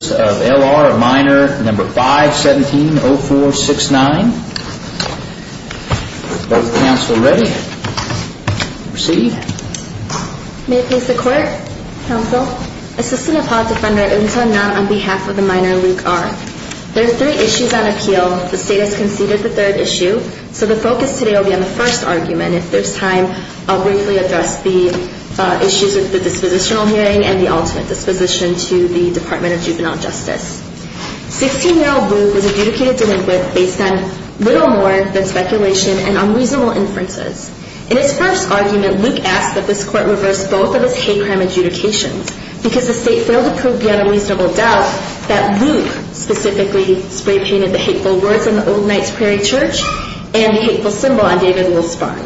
or Minor No. 517-0469. Are both counsel ready? Proceed. May it please the Court, Counsel? Assistant Apology Defender Eun Sun Nam on behalf of the Minor, Luke R. There are three issues on appeal. The State has conceded the third issue, so the focus today will be on the first argument. If there's time, I'll briefly address the issues of the dispositional hearing and the ultimate disposition to the Department of Juvenile Justice. 16-year-old Luke was adjudicated delinquent based on little more than speculation and unreasonable inferences. In his first argument, Luke asked that this Court reverse both of his hate crime adjudications because the State failed to prove beyond a reasonable doubt that Luke specifically spray-painted the hateful words on the Old Knights Prairie Church and the hateful symbol on David Will's spine.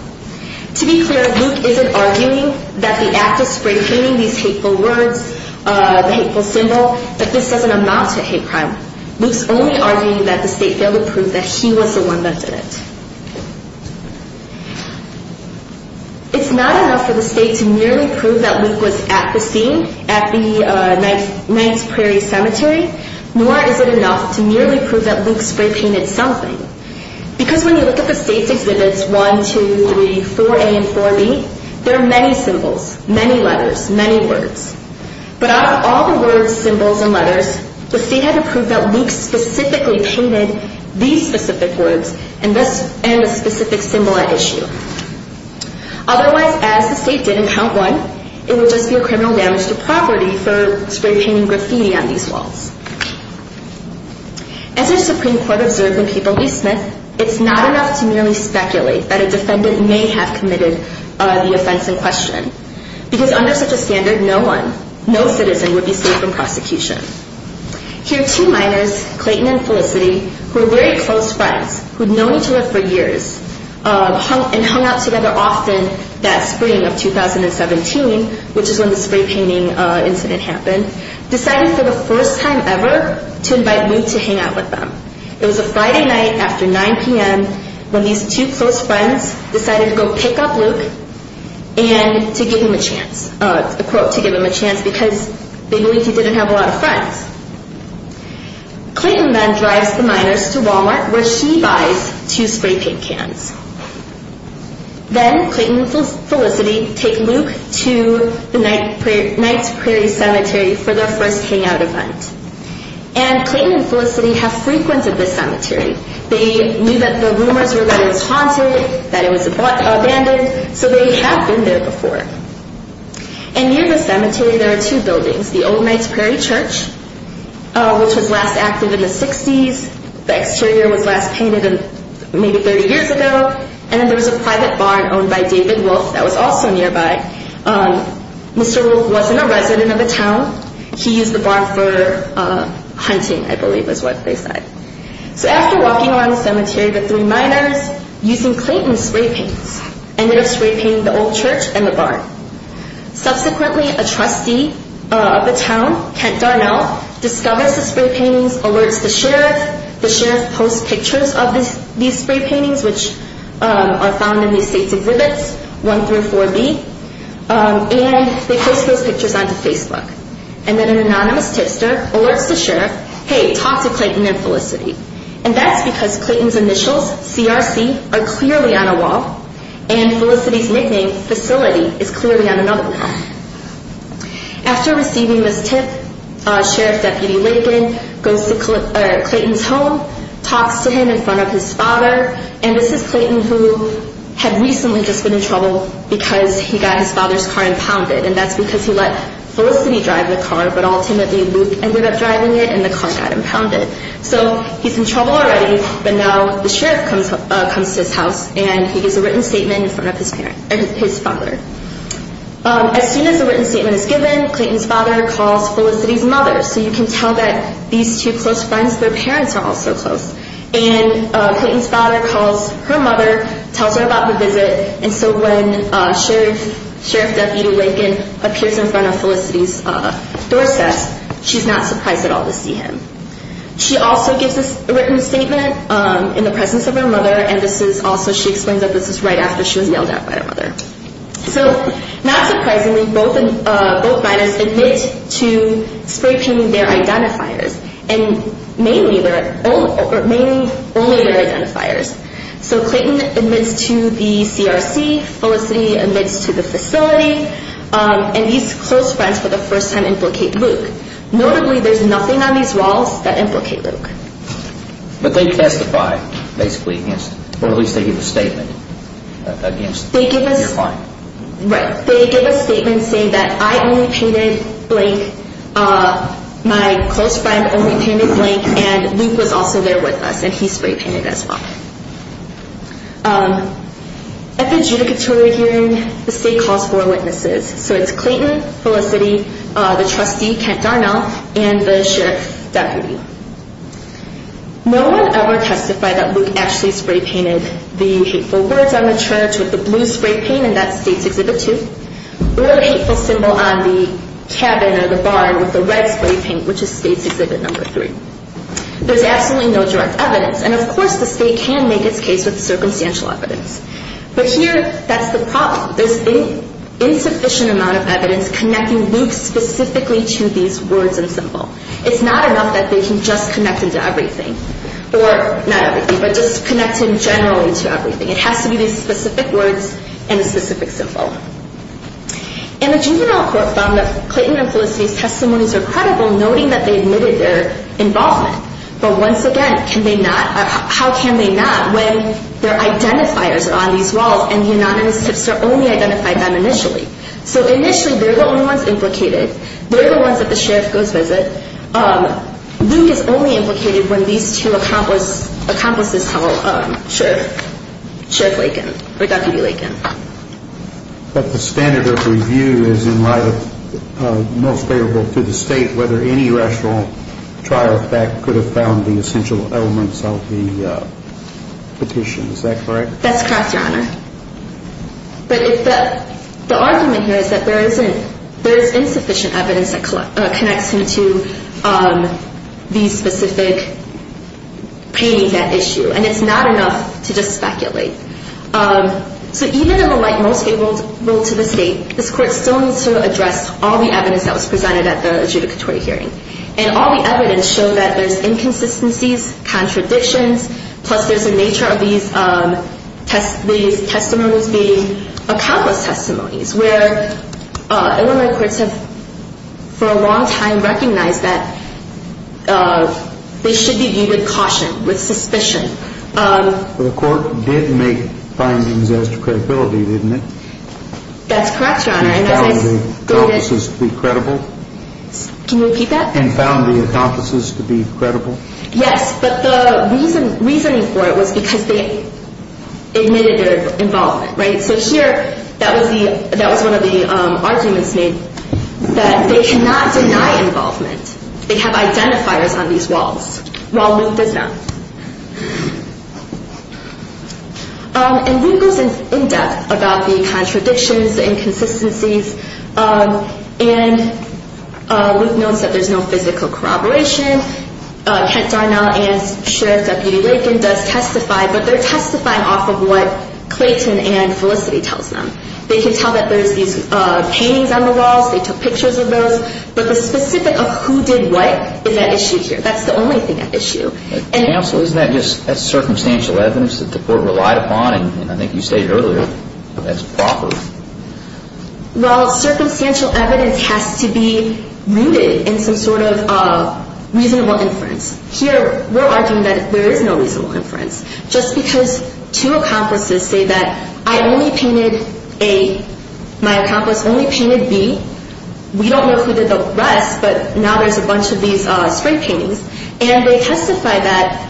To be clear, Luke isn't arguing that the act of spray-painting these hateful words, the hateful symbol, that this doesn't amount to hate crime. Luke's only arguing that the State failed to prove that he was the one that did it. It's not enough for the State to merely prove that Luke was at the scene at the Knights Prairie Cemetery, nor is it enough to merely prove that Luke spray-painted something. Because when you look at the State's exhibits 1, 2, 3, 4A, and 4B, there are many symbols, many letters, many words. But out of all the words, symbols, and letters, the State had to prove that Luke specifically painted these specific words and the specific symbol at issue. Otherwise, as the State did in Count 1, it would just be a criminal damage to property for spray-painting graffiti on these walls. As our Supreme Court observed when people leave Smith, it's not enough to merely speculate that a defendant may have committed the offense in question. Because under such a standard, no one, no citizen, would be safe from prosecution. Here, two minors, Clayton and Felicity, who were very close friends, who'd known each other for years and hung out together often that spring of 2017, which is when the spray-painting incident happened, decided for the first time ever to invite Luke to hang out with them. It was a Friday night after 9 p.m. when these two close friends decided to go pick up Luke and to give him a chance, a quote, to give him a chance, because they believed he didn't have a lot of friends. Clayton then drives the minors to Walmart, where she buys two spray-paint cans. Then, Clayton and Felicity take Luke to the Knights Prairie Cemetery for their first hangout event. And Clayton and Felicity have frequented this cemetery. They knew that the rumors were that it was haunted, that it was abandoned, so they have been there before. And near the cemetery, there are two buildings, the old Knights Prairie Church, which was last active in the 60s. The exterior was last painted maybe 30 years ago. And then there was a private barn owned by David Wolfe that was also nearby. Mr. Wolfe wasn't a resident of the town. He used the barn for hunting, I believe, is what they said. So after walking around the cemetery, the three minors, using Clayton's spray-paints, Subsequently, a trustee of the town, Kent Darnell, discovers the spray-paintings, alerts the sheriff. The sheriff posts pictures of these spray-paintings, which are found in the estates of Ribbets 1 through 4B. And they post those pictures onto Facebook. And then an anonymous tipster alerts the sheriff, Hey, talk to Clayton and Felicity. And that's because Clayton's initials, CRC, are clearly on a wall, and Felicity's nickname, Facility, is clearly on another wall. After receiving this tip, Sheriff Deputy Lakin goes to Clayton's home, talks to him in front of his father, and this is Clayton who had recently just been in trouble because he got his father's car impounded. And that's because he let Felicity drive the car, but ultimately Luke ended up driving it, and the car got impounded. So he's in trouble already, but now the sheriff comes to his house, and he gives a written statement in front of his father. As soon as the written statement is given, Clayton's father calls Felicity's mother. So you can tell that these two close friends, their parents are also close. And Clayton's father calls her mother, tells her about the visit, and so when Sheriff Deputy Lakin appears in front of Felicity's doorstep, she's not surprised at all to see him. She also gives a written statement in the presence of her mother, and also she explains that this is right after she was yelled at by her mother. So not surprisingly, both minors admit to spray-painting their identifiers, and mainly only their identifiers. So Clayton admits to the CRC, Felicity admits to the facility, and these close friends for the first time implicate Luke. Notably, there's nothing on these walls that implicate Luke. But they testify basically against it, or at least they give a statement against your crime. Right. They give a statement saying that I only painted blank, my close friend only painted blank, and Luke was also there with us, and he spray-painted as well. At the adjudicatory hearing, the state calls four witnesses. So it's Clayton, Felicity, the trustee Kent Darnell, and the sheriff's deputy. No one ever testified that Luke actually spray-painted the hateful words on the church with the blue spray-paint, and that's State's Exhibit 2, or the hateful symbol on the cabin or the barn with the red spray-paint, which is State's Exhibit 3. There's absolutely no direct evidence, and of course the state can make its case with circumstantial evidence. But here, that's the problem. There's an insufficient amount of evidence connecting Luke specifically to these words and symbol. It's not enough that they can just connect him to everything, or not everything, but just connect him generally to everything. It has to be the specific words and the specific symbol. And the juvenile court found that Clayton and Felicity's testimonies are credible, noting that they admitted their involvement. But once again, how can they not when their identifiers are on these walls and the anonymous tipster only identified them initially? So initially, they're the only ones implicated. They're the ones that the sheriff goes visit. Luke is only implicated when these two accomplices tell Sheriff Lakin, or Deputy Lakin. But the standard of review is in light of most favorable to the state, whether any rational trial effect could have found the essential elements of the petition. Is that correct? That's correct, Your Honor. But the argument here is that there is insufficient evidence that connects him to the specific painting, that issue. And it's not enough to just speculate. So even in the light most favorable to the state, this court still needs to address all the evidence that was presented at the adjudicatory hearing. And all the evidence showed that there's inconsistencies, contradictions, plus there's a nature of these testimonies being accomplice testimonies, where Illinois courts have for a long time recognized that they should be viewed with caution, with suspicion. The court did make findings as to credibility, didn't it? That's correct, Your Honor. And found the accomplices to be credible? Can you repeat that? And found the accomplices to be credible? Yes, but the reasoning for it was because they admitted their involvement, right? So here, that was one of the arguments made that they cannot deny involvement. They have identifiers on these walls, while Luke does not. And Luke goes in depth about the contradictions, inconsistencies, and Luke notes that there's no physical corroboration. Kent Darnall and Sheriff Deputy Lakin does testify, but they're testifying off of what Clayton and Felicity tells them. They can tell that there's these paintings on the walls. They took pictures of those. But the specific of who did what is at issue here. That's the only thing at issue. Counsel, isn't that just circumstantial evidence that the court relied upon? And I think you stated earlier, that's a profit. Well, circumstantial evidence has to be rooted in some sort of reasonable inference. Here, we're arguing that there is no reasonable inference. Just because two accomplices say that I only painted A, my accomplice only painted B. We don't know who did the rest, but now there's a bunch of these spray paintings. And they testify that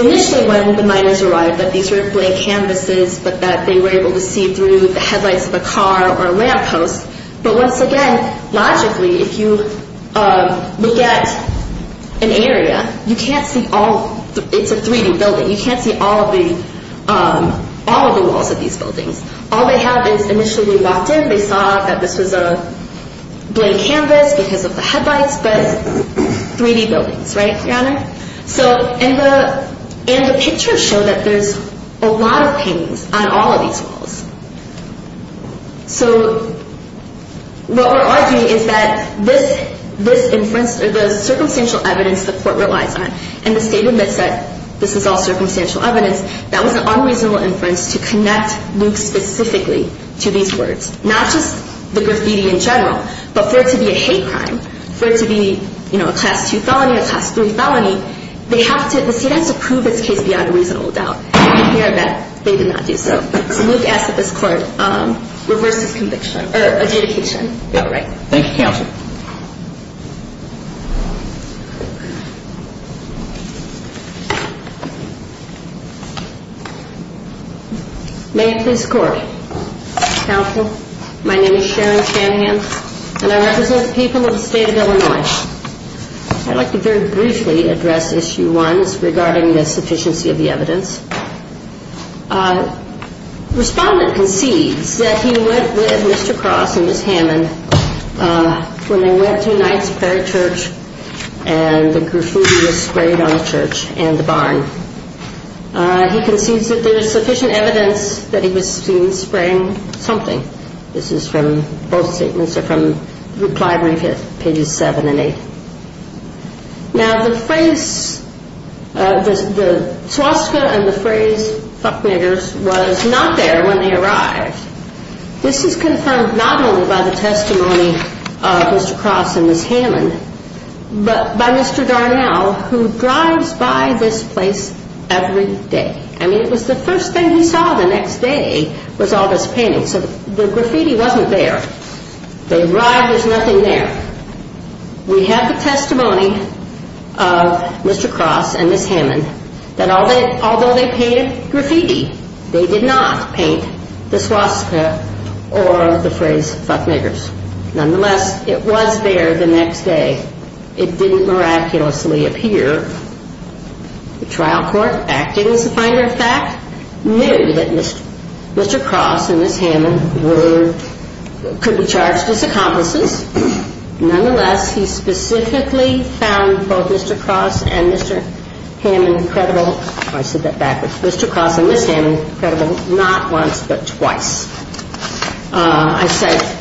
initially when the miners arrived, that these were blank canvases, but that they were able to see through the headlights of a car or a lamppost. But once again, logically, if you look at an area, you can't see all. It's a 3D building. You can't see all of the walls of these buildings. All they have is initially we walked in, they saw that this was a blank canvas because of the headlights, but 3D buildings, right, Your Honor? And the pictures show that there's a lot of paintings on all of these walls. So what we're arguing is that this inference, the circumstantial evidence the court relies on, and the statement that said this is all circumstantial evidence, that was an unreasonable inference to connect Luke specifically to these words. Not just the graffiti in general, but for it to be a hate crime, for it to be, you know, a class 2 felony, a class 3 felony, the state has to prove this case beyond a reasonable doubt. And here I bet they did not do so. So Luke asks that this court reverse his conviction or adjudication. Thank you, Counsel. May it please the Court. Counsel, my name is Sharon Shanahan, and I represent the people of the state of Illinois. I'd like to very briefly address Issue 1 regarding the sufficiency of the evidence. Respondent concedes that he went with Mr. Cross and Ms. Hammond to the police station when they went to Knight's Prairie Church and the graffiti was sprayed on the church and the barn. He concedes that there is sufficient evidence that he was seen spraying something. This is from both statements, or from reply brief at pages 7 and 8. Now the phrase, the swastika and the phrase, fuck niggers, was not there when they arrived. This is confirmed not only by the testimony of Mr. Cross and Ms. Hammond, but by Mr. Darnell, who drives by this place every day. I mean, it was the first thing he saw the next day was all this painting. So the graffiti wasn't there. They arrived, there's nothing there. We have the testimony of Mr. Cross and Ms. Hammond that although they painted graffiti, they did not paint the swastika or the phrase, fuck niggers. Nonetheless, it was there the next day. It didn't miraculously appear. The trial court, acting as a finder of fact, knew that Mr. Cross and Ms. Hammond could be charged as accomplices. Nonetheless, he specifically found both Mr. Cross and Ms. Hammond credible. I said that backwards. Mr. Cross and Ms. Hammond credible not once but twice. I said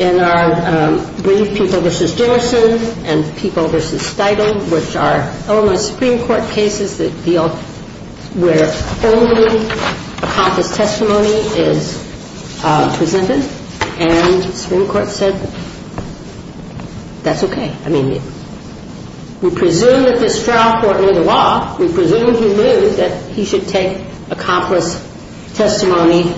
in our brief, people v. Dimerson and people v. Steigle, which are Illinois Supreme Court cases that deal where only accomplice testimony is presented, and the Supreme Court said that's okay. I mean, we presume that this trial court knew the law. We presume he knew that he should take accomplice testimony.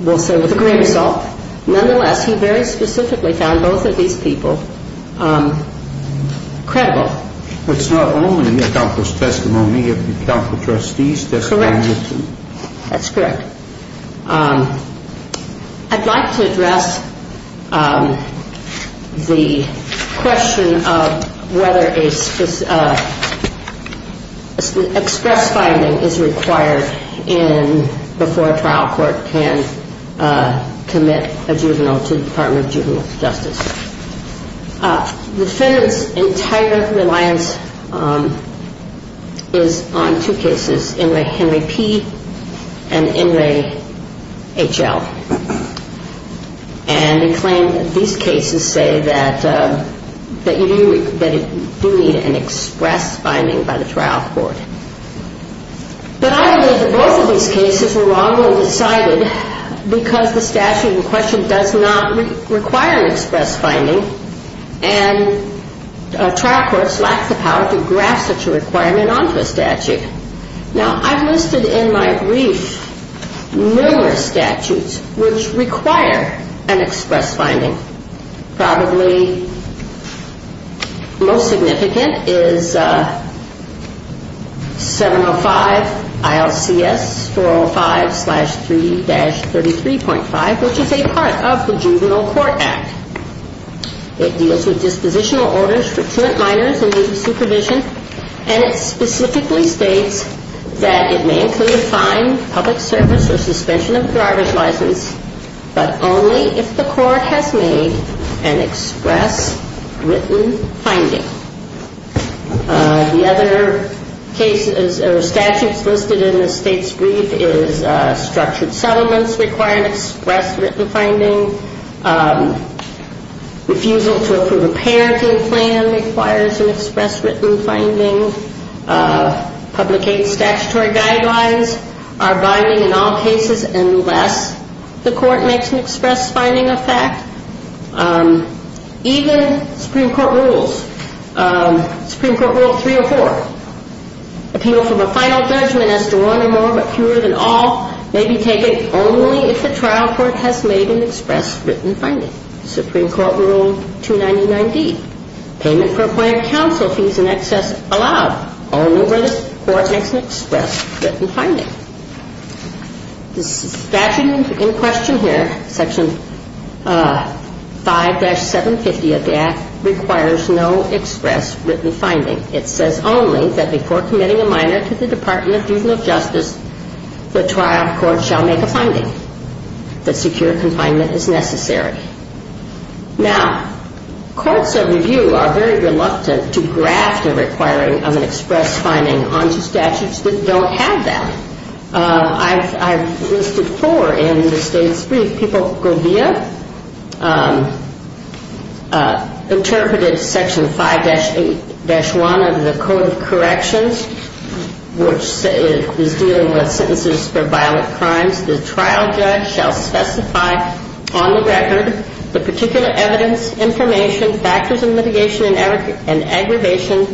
We'll say with a grain of salt. Nonetheless, he very specifically found both of these people credible. It's not only an accomplice testimony, it's an accomplice trustee's testimony. Correct. That's correct. I'd like to address the question of whether an express finding is required before a trial court can commit a juvenile to the Department of Juvenile Justice. The defendant's entire reliance is on two cases, Inouye Henry P. and Inouye H.L. And he claimed that these cases say that you do need an express finding by the trial court. But I believe that both of these cases were wrongly decided because the statute in question does not require an express finding and trial courts lack the power to grasp such a requirement onto a statute. Now, I've listed in my brief numerous statutes which require an express finding. Probably most significant is 705 ILCS 405-3-33.5, which is a part of the Juvenile Court Act. It deals with dispositional orders for current minors in need of supervision, and it specifically states that it may include fine, public service, or suspension of driver's license, but only if the court has made an express written finding. The other cases or statutes listed in the state's brief is structured settlements require an express written finding. Refusal to approve a parenting plan requires an express written finding. Publicate statutory guidelines are binding in all cases unless the court makes an express finding a fact. Even Supreme Court Rules, Supreme Court Rule 304, appeal from a final judgment as to one or more, but fewer than all, may be taken only if the trial court has made an express written finding. Supreme Court Rule 299D, payment for appointed counsel fees in excess allowed only when the court makes an express written finding. The statute in question here, Section 5-750 of the Act, requires no express written finding. It says only that before committing a minor to the Department of Juvenile Justice, the trial court shall make a finding. The secure confinement is necessary. Now, courts of review are very reluctant to graft a requiring of an express finding onto statutes that don't have that. I've listed four in the state's brief. People go via. Interpreted Section 5-8-1 of the Code of Corrections, which is dealing with sentences for violent crimes. The trial judge shall specify on the record the particular evidence, information, factors of mitigation and aggravation,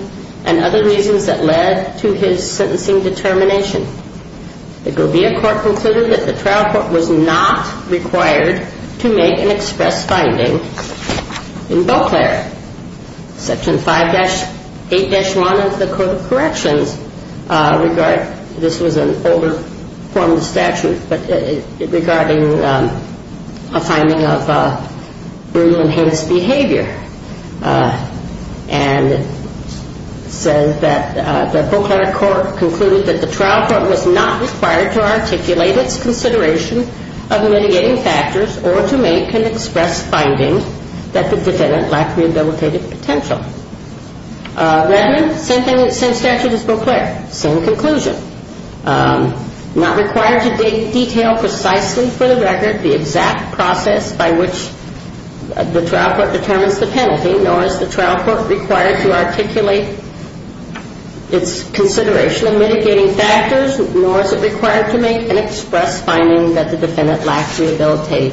and other reasons that led to his sentencing determination. The Govia Court concluded that the trial court was not required to make an express finding in both areas. Section 5-8-1 of the Code of Corrections, this was an older form of statute, but regarding a finding of brutal and heinous behavior. And it says that the Proclivity Court concluded that the trial court was not required to articulate its consideration of mitigating factors or to make an express finding that the defendant lacked rehabilitative potential. Redmond, same thing, same statute as Beauclair, same conclusion. Not required to detail precisely for the record the exact process by which the trial court determines the penalty, nor is the trial court required to articulate its consideration of mitigating factors, nor is it required to make an express finding that the defendant lacked rehabilitative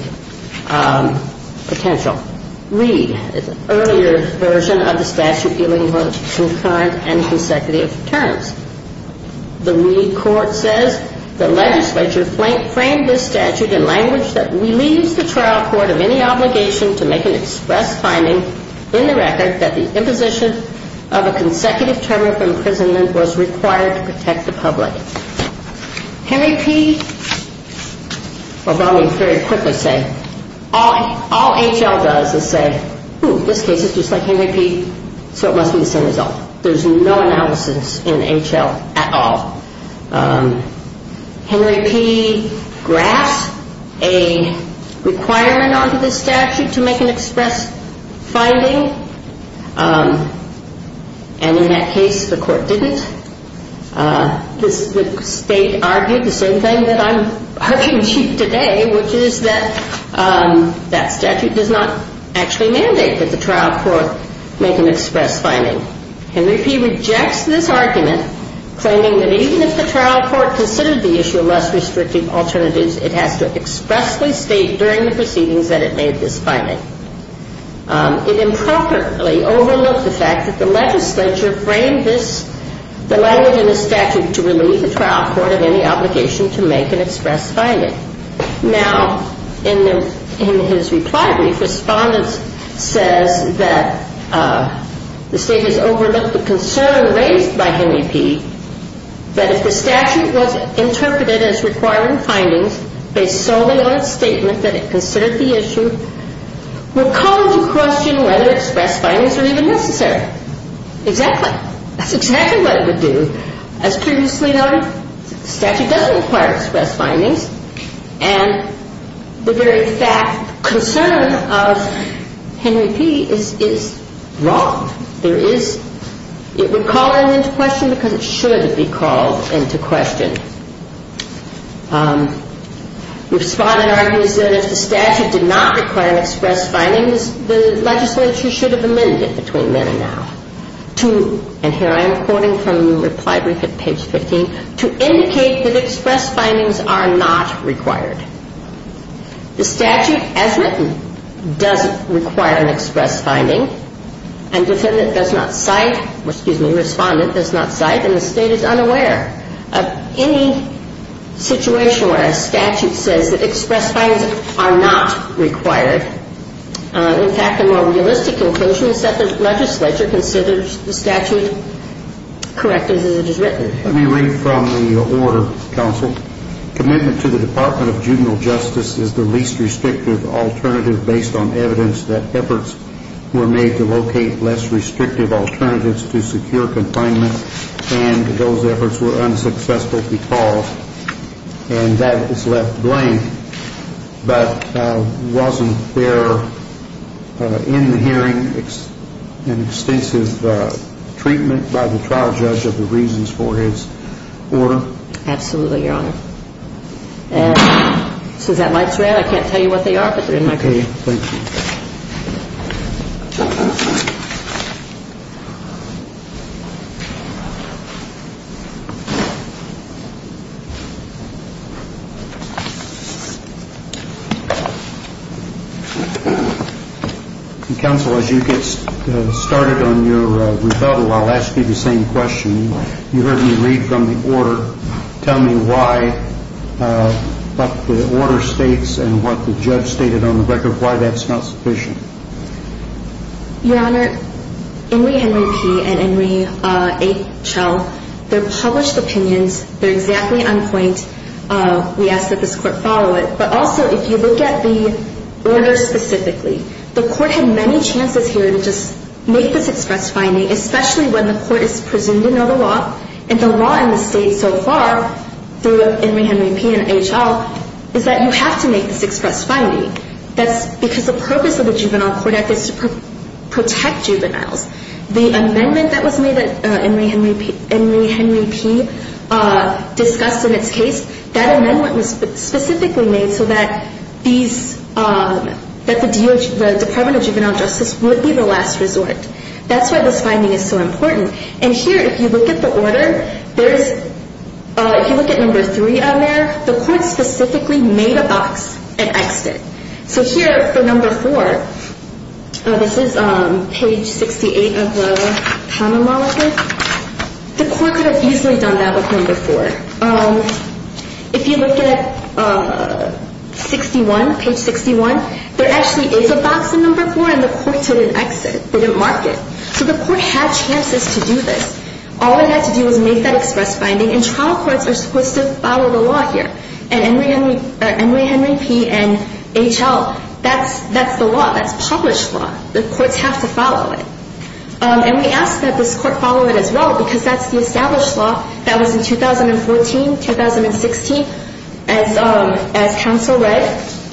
potential. Reed is an earlier version of the statute dealing with concurrent and consecutive terms. The Reed Court says the legislature framed this statute in language that relieves the trial court of any obligation to make an express finding in the record that the imposition of a consecutive term of imprisonment was required to protect the public. Henry P., I'll probably very quickly say, all H.L. does is say, ooh, this case is just like Henry P., so it must be the same result. There's no analysis in H.L. at all. Henry P. graphs a requirement onto this statute to make an express finding, and in that case the court didn't. The state argued the same thing that I'm arguing today, which is that that statute does not actually mandate that the trial court make an express finding. Henry P. rejects this argument, claiming that even if the trial court considered the issue of less restrictive alternatives, it has to expressly state during the proceedings that it made this finding. It improperly overlooked the fact that the legislature framed the language in the statute to relieve the trial court of any obligation to make an express finding. Now, in his reply brief, Respondent says that the state has overlooked the concern raised by Henry P. that if the statute was interpreted as requiring findings based solely on its statement that it considered the issue, would call into question whether express findings were even necessary. Exactly. That's exactly what it would do. As previously noted, the statute doesn't require express findings, and the very fact, concern of Henry P. is wrong. There is, it would call that into question because it should be called into question. Respondent argues that if the statute did not require express findings, the legislature should have amended it between then and now to, and here I am quoting from the reply brief at page 15, to indicate that express findings are not required. The statute, as written, doesn't require an express finding, and Defendant does not cite, excuse me, Respondent does not cite, and the state is unaware of any situation where a statute says that express findings are not required. In fact, the more realistic conclusion is that the legislature considers the statute correct as it is written. Let me read from the order, Counsel. Commitment to the Department of Juvenile Justice is the least restrictive alternative based on evidence that efforts were made to locate less restrictive alternatives to secure confinement and those efforts were unsuccessful because, and that is left blank, but wasn't there in the hearing an extensive treatment by the trial judge of the reasons for his order? Absolutely, Your Honor. And since that light's red, I can't tell you what they are. Okay, thank you. Counsel, as you get started on your rebuttal, I'll ask you the same question. You heard me read from the order. Tell me why, what the order states and what the judge stated on the record, why that's not sufficient. Your Honor, in the Henry P. and Henry H.L., they're published opinions. They're exactly on point. We ask that this Court follow it. But also, if you look at the order specifically, the Court had many chances here to just make this express finding, especially when the Court is presumed to know the law. And the law in the State so far, through Henry P. and H.L., is that you have to make this express finding. That's because the purpose of the Juvenile Court Act is to protect juveniles. The amendment that was made that Henry P. discussed in its case, that amendment was specifically made so that the Department of Juvenile Justice would be the last resort. That's why this finding is so important. And here, if you look at the order, if you look at No. 3 on there, the Court specifically made a box and X'd it. So here, for No. 4, this is page 68 of the Common Law Report, the Court could have easily done that with No. 4. If you look at 61, page 61, there actually is a box in No. 4, and the Court didn't X it. They didn't mark it. So the Court had chances to do this. All it had to do was make that express finding, and trial courts are supposed to follow the law here. And Henry P. and H.L., that's the law. That's published law. The courts have to follow it. And we ask that this Court follow it as well, because that's the established law that was in 2014, 2016. As counsel read,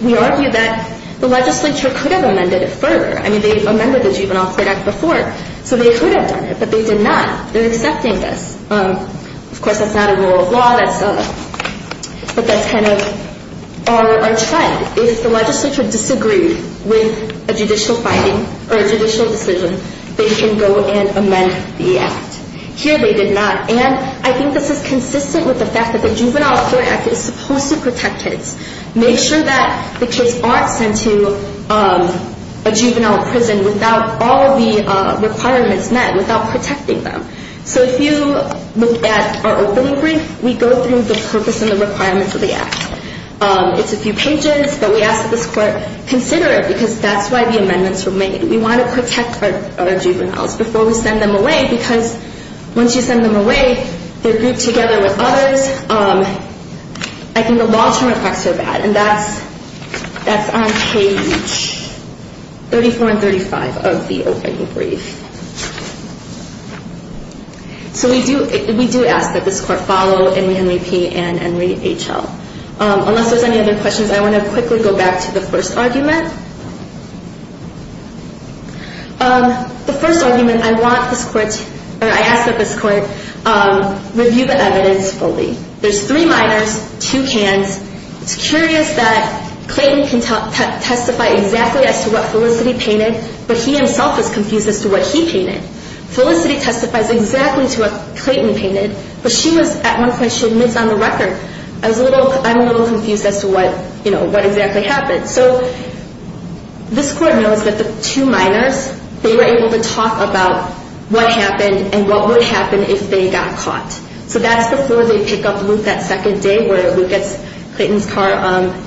we argued that the legislature could have amended it further. I mean, they amended the Juvenile Court Act before, so they could have done it, but they did not. They're accepting this. Of course, that's not a rule of law, but that's kind of our trend. If the legislature disagreed with a judicial finding or a judicial decision, they can go and amend the Act. Here, they did not. And I think this is consistent with the fact that the Juvenile Court Act is supposed to protect kids, make sure that the kids aren't sent to a juvenile prison without all of the requirements met, without protecting them. So if you look at our opening brief, we go through the purpose and the requirements of the Act. It's a few pages, but we ask that this Court consider it, because that's why the amendments were made. We want to protect our juveniles before we send them away, because once you send them away, they're grouped together with others. I think the law term effects are bad, and that's on page 34 and 35 of the opening brief. So we do ask that this Court follow Henry Henry P. and Henry H. L. Unless there's any other questions, I want to quickly go back to the first argument. The first argument, I ask that this Court review the evidence fully. There's three minors, two cans. It's curious that Clayton can testify exactly as to what Felicity painted, but he himself is confused as to what he painted. Felicity testifies exactly to what Clayton painted, but at one point she admits on the record, I'm a little confused as to what exactly happened. So this Court knows that the two minors, they were able to talk about what happened and what would happen if they got caught. So that's before they pick up Luke that second day, where Luke gets Clayton's car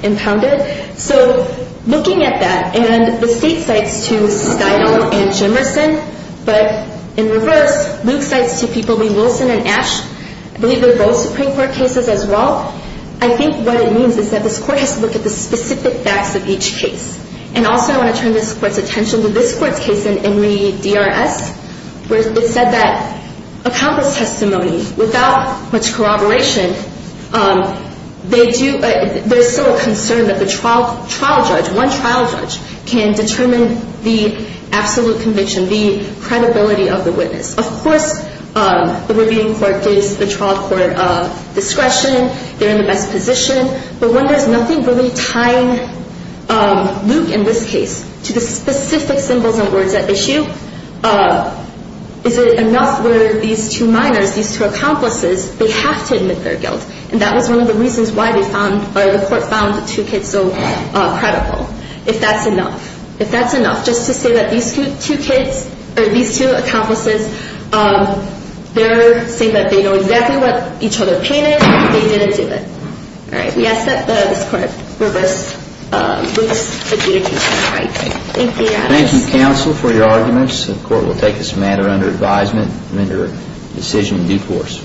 impounded. So looking at that, and the State cites to Steinle and Jemerson, but in reverse, Luke cites to people Lee Wilson and Ash. I believe they're both Supreme Court cases as well. I think what it means is that this Court has to look at the specific facts of each case. And also I want to turn this Court's attention to this Court's case in Henry D.R.S., where it said that a countless testimony without much corroboration, they do – there's still a concern that the trial judge, one trial judge, can determine the absolute conviction, the credibility of the witness. Of course, the reviewing court gives the trial court discretion, they're in the best position. But when there's nothing really tying Luke in this case to the specific symbols and words at issue, is it enough where these two minors, these two accomplices, they have to admit their guilt? And that was one of the reasons why they found, or the Court found the two kids so credible, if that's enough. Just to say that these two kids, or these two accomplices, they're saying that they know exactly what each other painted, they didn't do it. All right, we ask that this Court reverse Luke's adjudication. Thank you. Thank you, counsel, for your arguments. The Court will take this matter under advisement and render a decision in due course.